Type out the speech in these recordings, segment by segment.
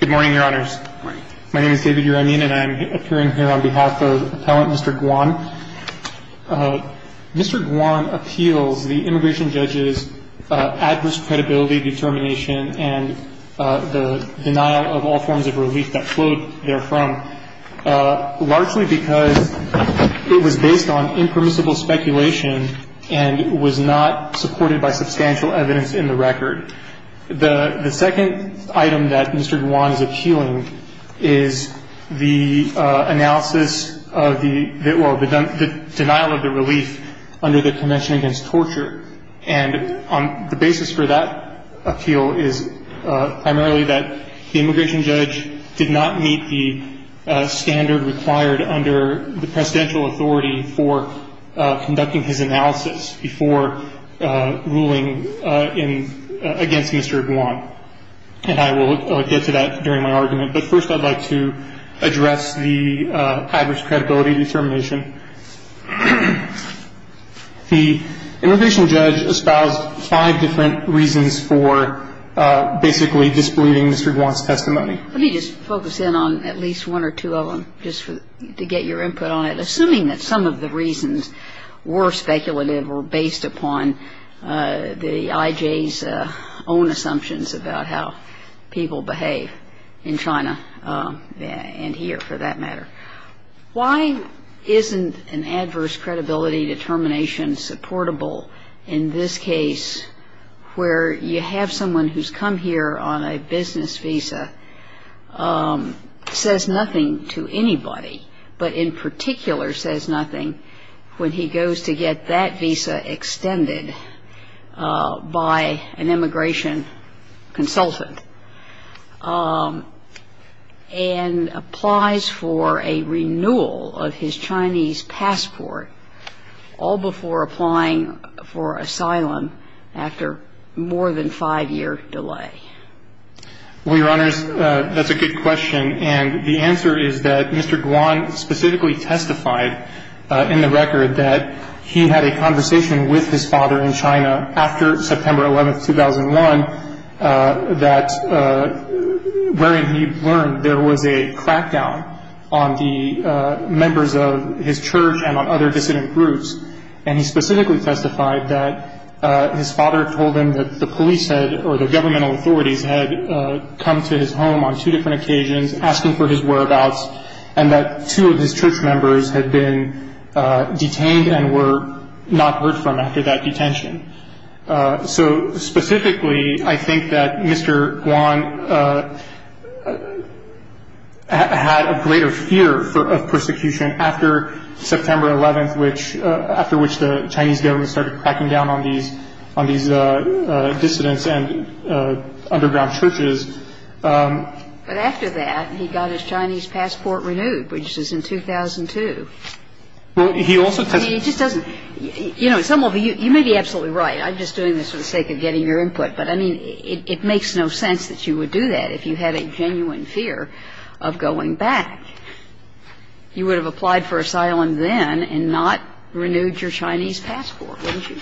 Good morning, Your Honors. My name is David Uramian and I'm appearing here on behalf of Appellant Mr. Guan. Mr. Guan appeals the immigration judge's adverse credibility, determination, and the denial of all forms of relief that flowed therefrom, largely because it was based on impermissible speculation and was not supported by substantial evidence in the record. The second item that Mr. Guan is appealing is the analysis of the denial of the relief under the Convention Against Torture. And the basis for that appeal is primarily that the immigration judge did not meet the standard required under the presidential authority for conducting his analysis before ruling against Mr. Guan. And I will get to that during my argument, but first I'd like to address the adverse credibility determination. The immigration judge espoused five different reasons for basically disbelieving Mr. Guan's testimony. Let me just focus in on at least one or two of them just to get your input on it, assuming that some of the reasons were speculative or based upon the IJ's own assumptions about how people behave in China and here, for that matter. Why isn't an adverse credibility determination supportable in this case, where you have someone who's come here on a business visa, says nothing to anybody, but in particular says nothing when he goes to get that visa extended by an immigration consultant and applies for a renewal of his Chinese passport all before applying for asylum after more than five-year delay? Well, Your Honors, that's a good question. And the answer is that Mr. Guan specifically testified in the record that he had a conversation with his father in China after September 11, 2001, wherein he learned there was a crackdown on the members of his church and on other dissident groups. And he specifically testified that his father told him that the police or the governmental authorities had come to his home on two different occasions asking for his whereabouts and that two of his church members had been detained and were not heard from after that detention. So specifically, I think that Mr. Guan had a greater fear of persecution after September 11, after which the Chinese government started cracking down on these dissidents and underground churches. But after that, he got his Chinese passport renewed, which was in 2002. Well, he also testified to that. I mean, he just doesn't – you know, some of you, you may be absolutely right. I'm just doing this for the sake of getting your input. But, I mean, it makes no sense that you would do that if you had a genuine fear of going back. You would have applied for asylum then and not renewed your Chinese passport, wouldn't you?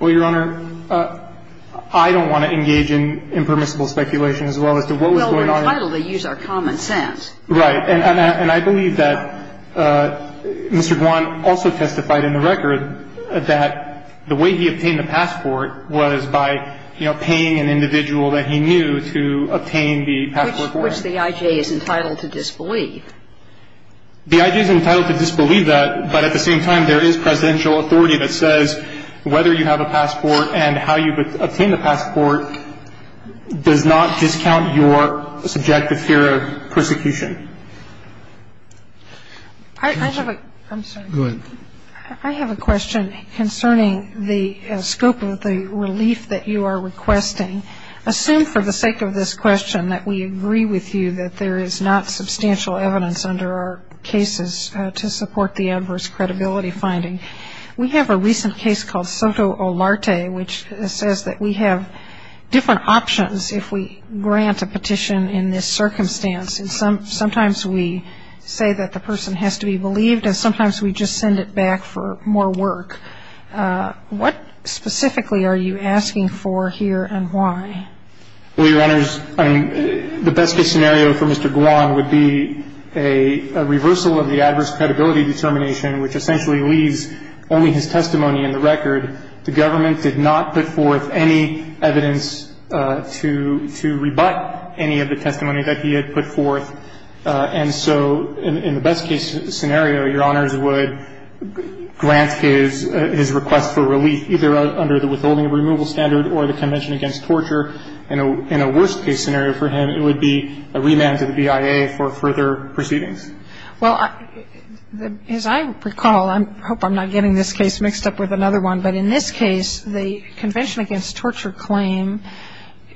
Well, Your Honor, I don't want to engage in impermissible speculation as well as to what was going on. Well, we're entitled to use our common sense. Right. And I believe that Mr. Guan also testified in the record that the way he obtained the passport was by, you know, paying an individual that he knew to obtain the passport for him. Which the I.J. is entitled to disbelieve. The I.J. is entitled to disbelieve that. But at the same time, there is presidential authority that says whether you have a passport and how you obtain the passport does not discount your subjective fear of persecution. I have a – I'm sorry. Go ahead. I have a question concerning the scope of the relief that you are requesting. Assume for the sake of this question that we agree with you that there is not substantial evidence under our cases to support the adverse credibility finding. We have a recent case called Soto Olarte which says that we have different options if we grant a petition in this circumstance. And sometimes we say that the person has to be believed and sometimes we just send it back for more work. What specifically are you asking for here and why? Well, Your Honors, I mean, the best-case scenario for Mr. Guan would be a reversal of the adverse credibility determination which essentially leaves only his testimony in the record. The government did not put forth any evidence to rebut any of the testimony that he had put forth. And so in the best-case scenario, Your Honors, would grant his request for relief, either under the withholding of removal standard or the Convention Against Torture. In a worst-case scenario for him, it would be a remand to the BIA for further proceedings. Well, as I recall, I hope I'm not getting this case mixed up with another one, but in this case the Convention Against Torture claim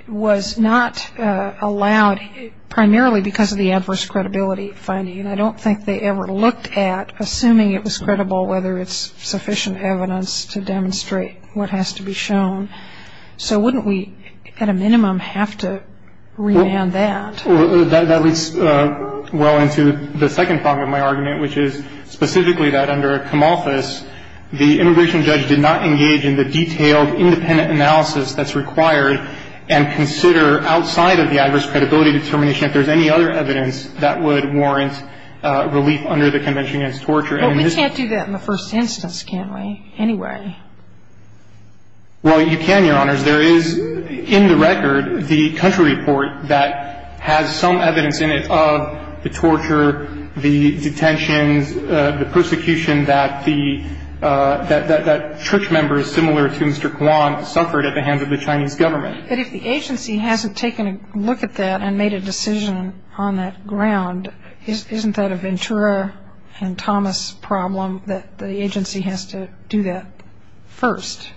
was not allowed primarily because of the adverse credibility finding. And I don't think they ever looked at, assuming it was credible, whether it's sufficient evidence to demonstrate what has to be shown. So wouldn't we, at a minimum, have to remand that? Well, that leads well into the second part of my argument, which is specifically that under a commorphous, the immigration judge did not engage in the detailed independent analysis that's required and consider outside of the adverse credibility determination if there's any other evidence that would warrant relief under the Convention Against Torture. But we can't do that in the first instance, can we, anyway? Well, you can, Your Honors. There is, in the record, the country report that has some evidence in it of the torture, the detentions, the persecution that the church members, similar to Mr. Kwan, suffered at the hands of the Chinese government. But if the agency hasn't taken a look at that and made a decision on that ground, isn't that a Ventura and Thomas problem that the agency has to do that first?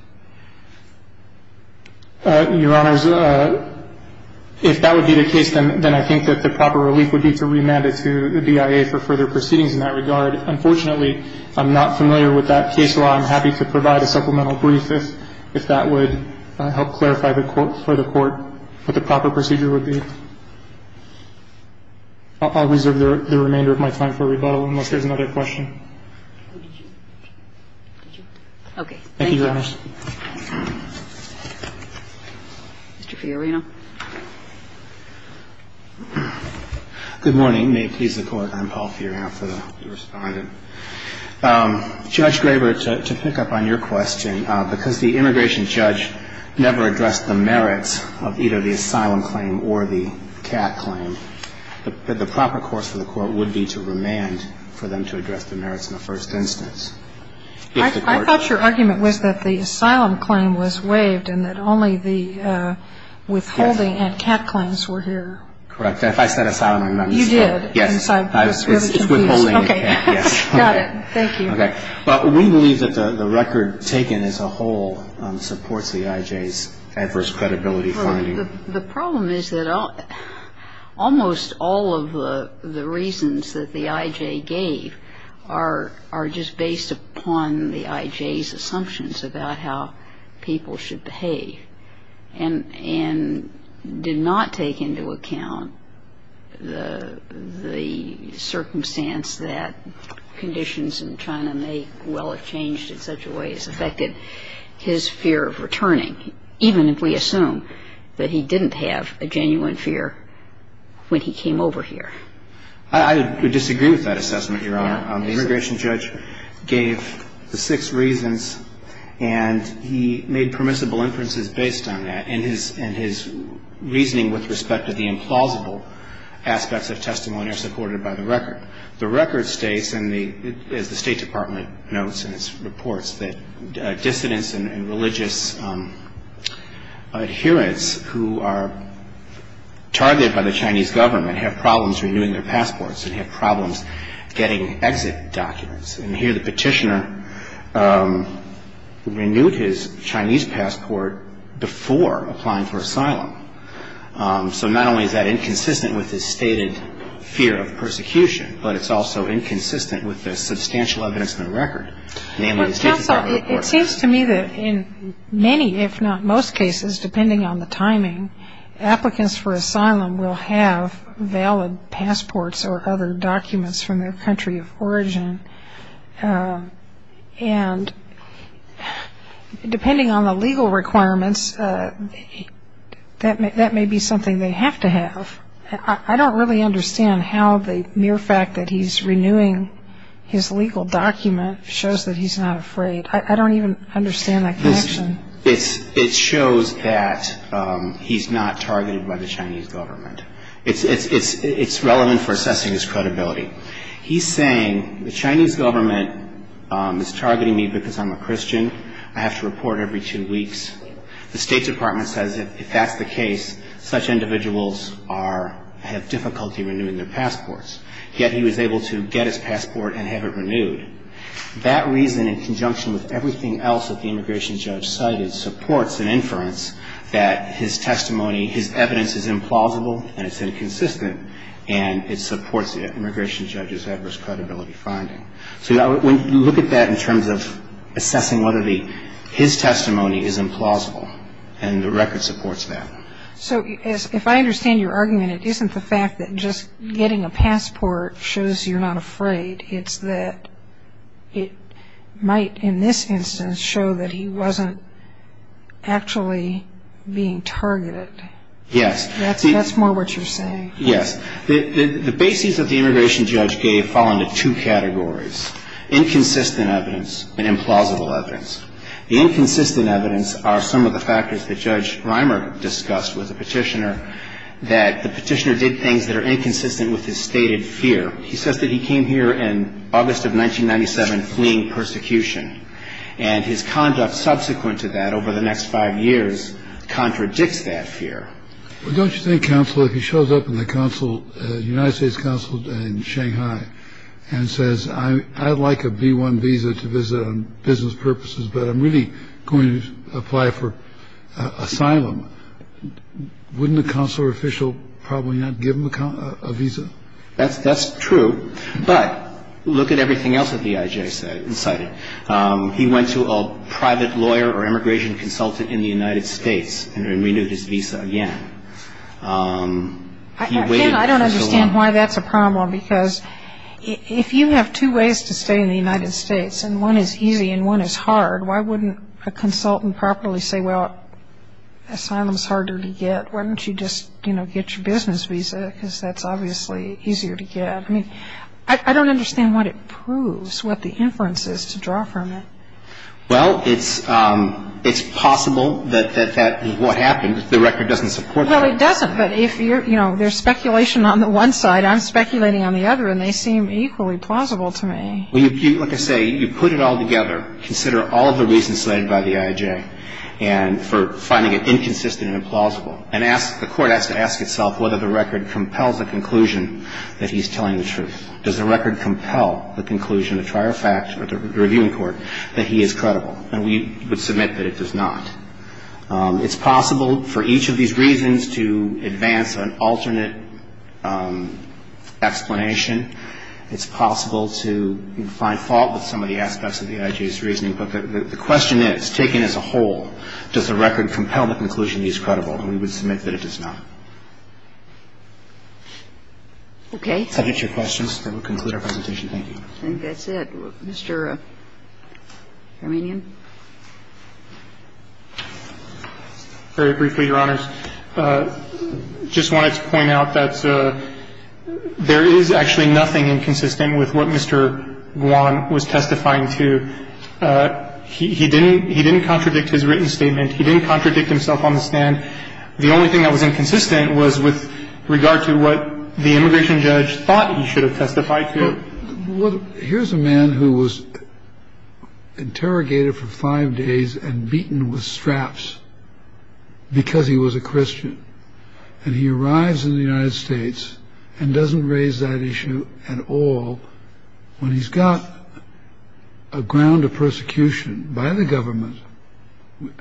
Your Honors, if that would be the case, then I think that the proper relief would be to remand it to the BIA for further proceedings in that regard. Unfortunately, I'm not familiar with that case law. I'm happy to provide a supplemental brief if that would help clarify for the Court what the proper procedure would be. I'll reserve the remainder of my time for rebuttal unless there's another question. Okay. Thank you, Your Honors. Mr. Fiorina. Good morning. May it please the Court. I'm Paul Fiorina, the respondent. Judge Graber, to pick up on your question, because the immigration judge never addressed the merits of either the asylum claim or the CAT claim, the proper course for the Court would be to remand for them to address the merits in the first instance. I thought your argument was that the asylum claim was waived and that only the withholding and CAT claims were here. Correct. If I said asylum, I meant asylum. You did. Yes. I was really confused. Okay. Yes. Got it. Thank you. Okay. But we believe that the record taken as a whole supports the IJ's adverse credibility finding. The problem is that almost all of the reasons that the IJ gave are just based upon the IJ's assumptions about how people should behave and did not take into account the circumstance that conditions in China may well have changed in such a way that it has affected his fear of returning, even if we assume that he didn't have a genuine fear when he came over here. I would disagree with that assessment, Your Honor. The immigration judge gave the six reasons, and he made permissible inferences based on that and his reasoning with respect to the implausible aspects of testimony are supported by the record. The record states, as the State Department notes in its reports, that dissidents and religious adherents who are targeted by the Chinese government have problems renewing their passports and have problems getting exit documents. And here the petitioner renewed his Chinese passport before applying for asylum. So not only is that inconsistent with his stated fear of persecution, but it's also inconsistent with the substantial evidence in the record, namely the State Department report. It seems to me that in many, if not most cases, depending on the timing, applicants for asylum will have valid passports or other documents from their country of origin. And depending on the legal requirements, that may be something they have to have. I don't really understand how the mere fact that he's renewing his legal document shows that he's not afraid. I don't even understand that connection. It shows that he's not targeted by the Chinese government. It's relevant for assessing his credibility. He's saying the Chinese government is targeting me because I'm a Christian. I have to report every two weeks. The State Department says if that's the case, such individuals have difficulty renewing their passports. Yet he was able to get his passport and have it renewed. That reason, in conjunction with everything else that the immigration judge cited, supports an inference that his testimony, his evidence is implausible and it's inconsistent, and it supports the immigration judge's adverse credibility finding. So when you look at that in terms of assessing whether his testimony is implausible, and the record supports that. So if I understand your argument, it isn't the fact that just getting a passport shows you're not afraid. It's that it might, in this instance, show that he wasn't actually being targeted. Yes. That's more what you're saying. Yes. The bases that the immigration judge gave fall into two categories, inconsistent evidence and implausible evidence. The inconsistent evidence are some of the factors that Judge Reimer discussed with the Petitioner that the Petitioner did things that are inconsistent with his stated fear. He says that he came here in August of 1997 fleeing persecution, and his conduct subsequent to that over the next five years contradicts that fear. Well, don't you think, counsel, if he shows up in the council, United States council in Shanghai and says, I'd like a B-1 visa to visit on business purposes, but I'm really going to apply for asylum, wouldn't the consular official probably not give him a visa? That's true. But look at everything else that the IJ cited. He went to a private lawyer or immigration consultant in the United States and he waited for so long. I don't understand why that's a problem, because if you have two ways to stay in the United States, and one is easy and one is hard, why wouldn't a consultant properly say, well, asylum is harder to get, why don't you just, you know, get your business visa, because that's obviously easier to get. I mean, I don't understand what it proves, what the inference is to draw from it. Well, it's possible that that is what happened. The record doesn't support that. Well, it doesn't. But if you're, you know, there's speculation on the one side, I'm speculating on the other, and they seem equally plausible to me. Well, like I say, you put it all together, consider all of the reasons cited by the IJ and for finding it inconsistent and implausible, and ask, the court has to ask itself whether the record compels the conclusion that he's telling the truth. Does the record compel the conclusion of prior fact or the reviewing court that he is credible? And we would submit that it does not. It's possible for each of these reasons to advance an alternate explanation. It's possible to find fault with some of the aspects of the IJ's reasoning. But the question is, taken as a whole, does the record compel the conclusion he's credible? And we would submit that it does not. Okay. If that hits your questions, then we'll conclude our presentation. Thank you. I think that's it. Mr. Hermanian. Very briefly, Your Honors. I just wanted to point out that there is actually nothing inconsistent with what Mr. Guan was testifying to. He didn't contradict his written statement. He didn't contradict himself on the stand. The only thing that was inconsistent was with regard to what the immigration judge thought he should have testified to. Well, here's a man who was interrogated for five days and beaten with straps because he was a Christian. And he arrives in the United States and doesn't raise that issue at all when he's got a ground of persecution by the government.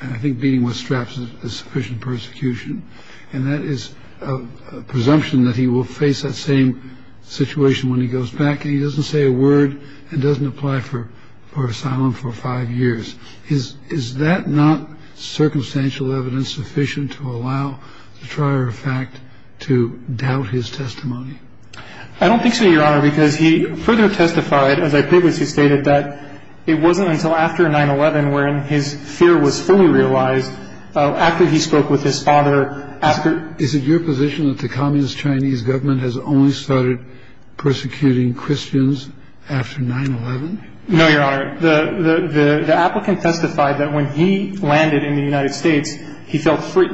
I think beating with straps is sufficient persecution. And that is a presumption that he will face that same situation when he goes back and he doesn't say a word and doesn't apply for asylum for five years. Is that not circumstantial evidence sufficient to allow the trier of fact to doubt his testimony? I don't think so, Your Honor, because he further testified, as I previously stated, that it wasn't until after 9-11 wherein his fear was fully realized after he spoke with his father. Is it your position that the communist Chinese government has only started persecuting Christians after 9-11? No, Your Honor. The applicant testified that when he landed in the United States, he felt free.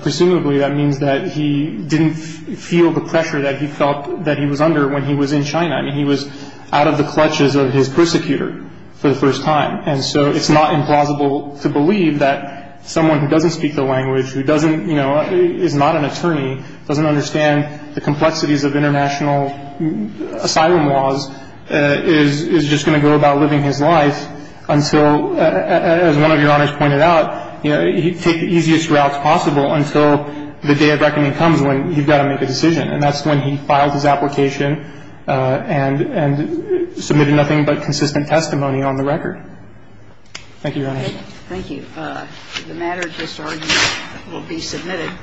Presumably that means that he didn't feel the pressure that he felt that he was under when he was in China. I mean, he was out of the clutches of his persecutor for the first time. And so it's not implausible to believe that someone who doesn't speak the language, who doesn't, you know, is not an attorney, doesn't understand the complexities of international asylum laws, is just going to go about living his life until, as one of Your Honors pointed out, he'd take the easiest routes possible until the day of reckoning comes when he's got to make a decision. And that's when he files his application and submitted nothing but consistent testimony on the record. Thank you, Your Honor. Thank you. The matter at this argument will be submitted.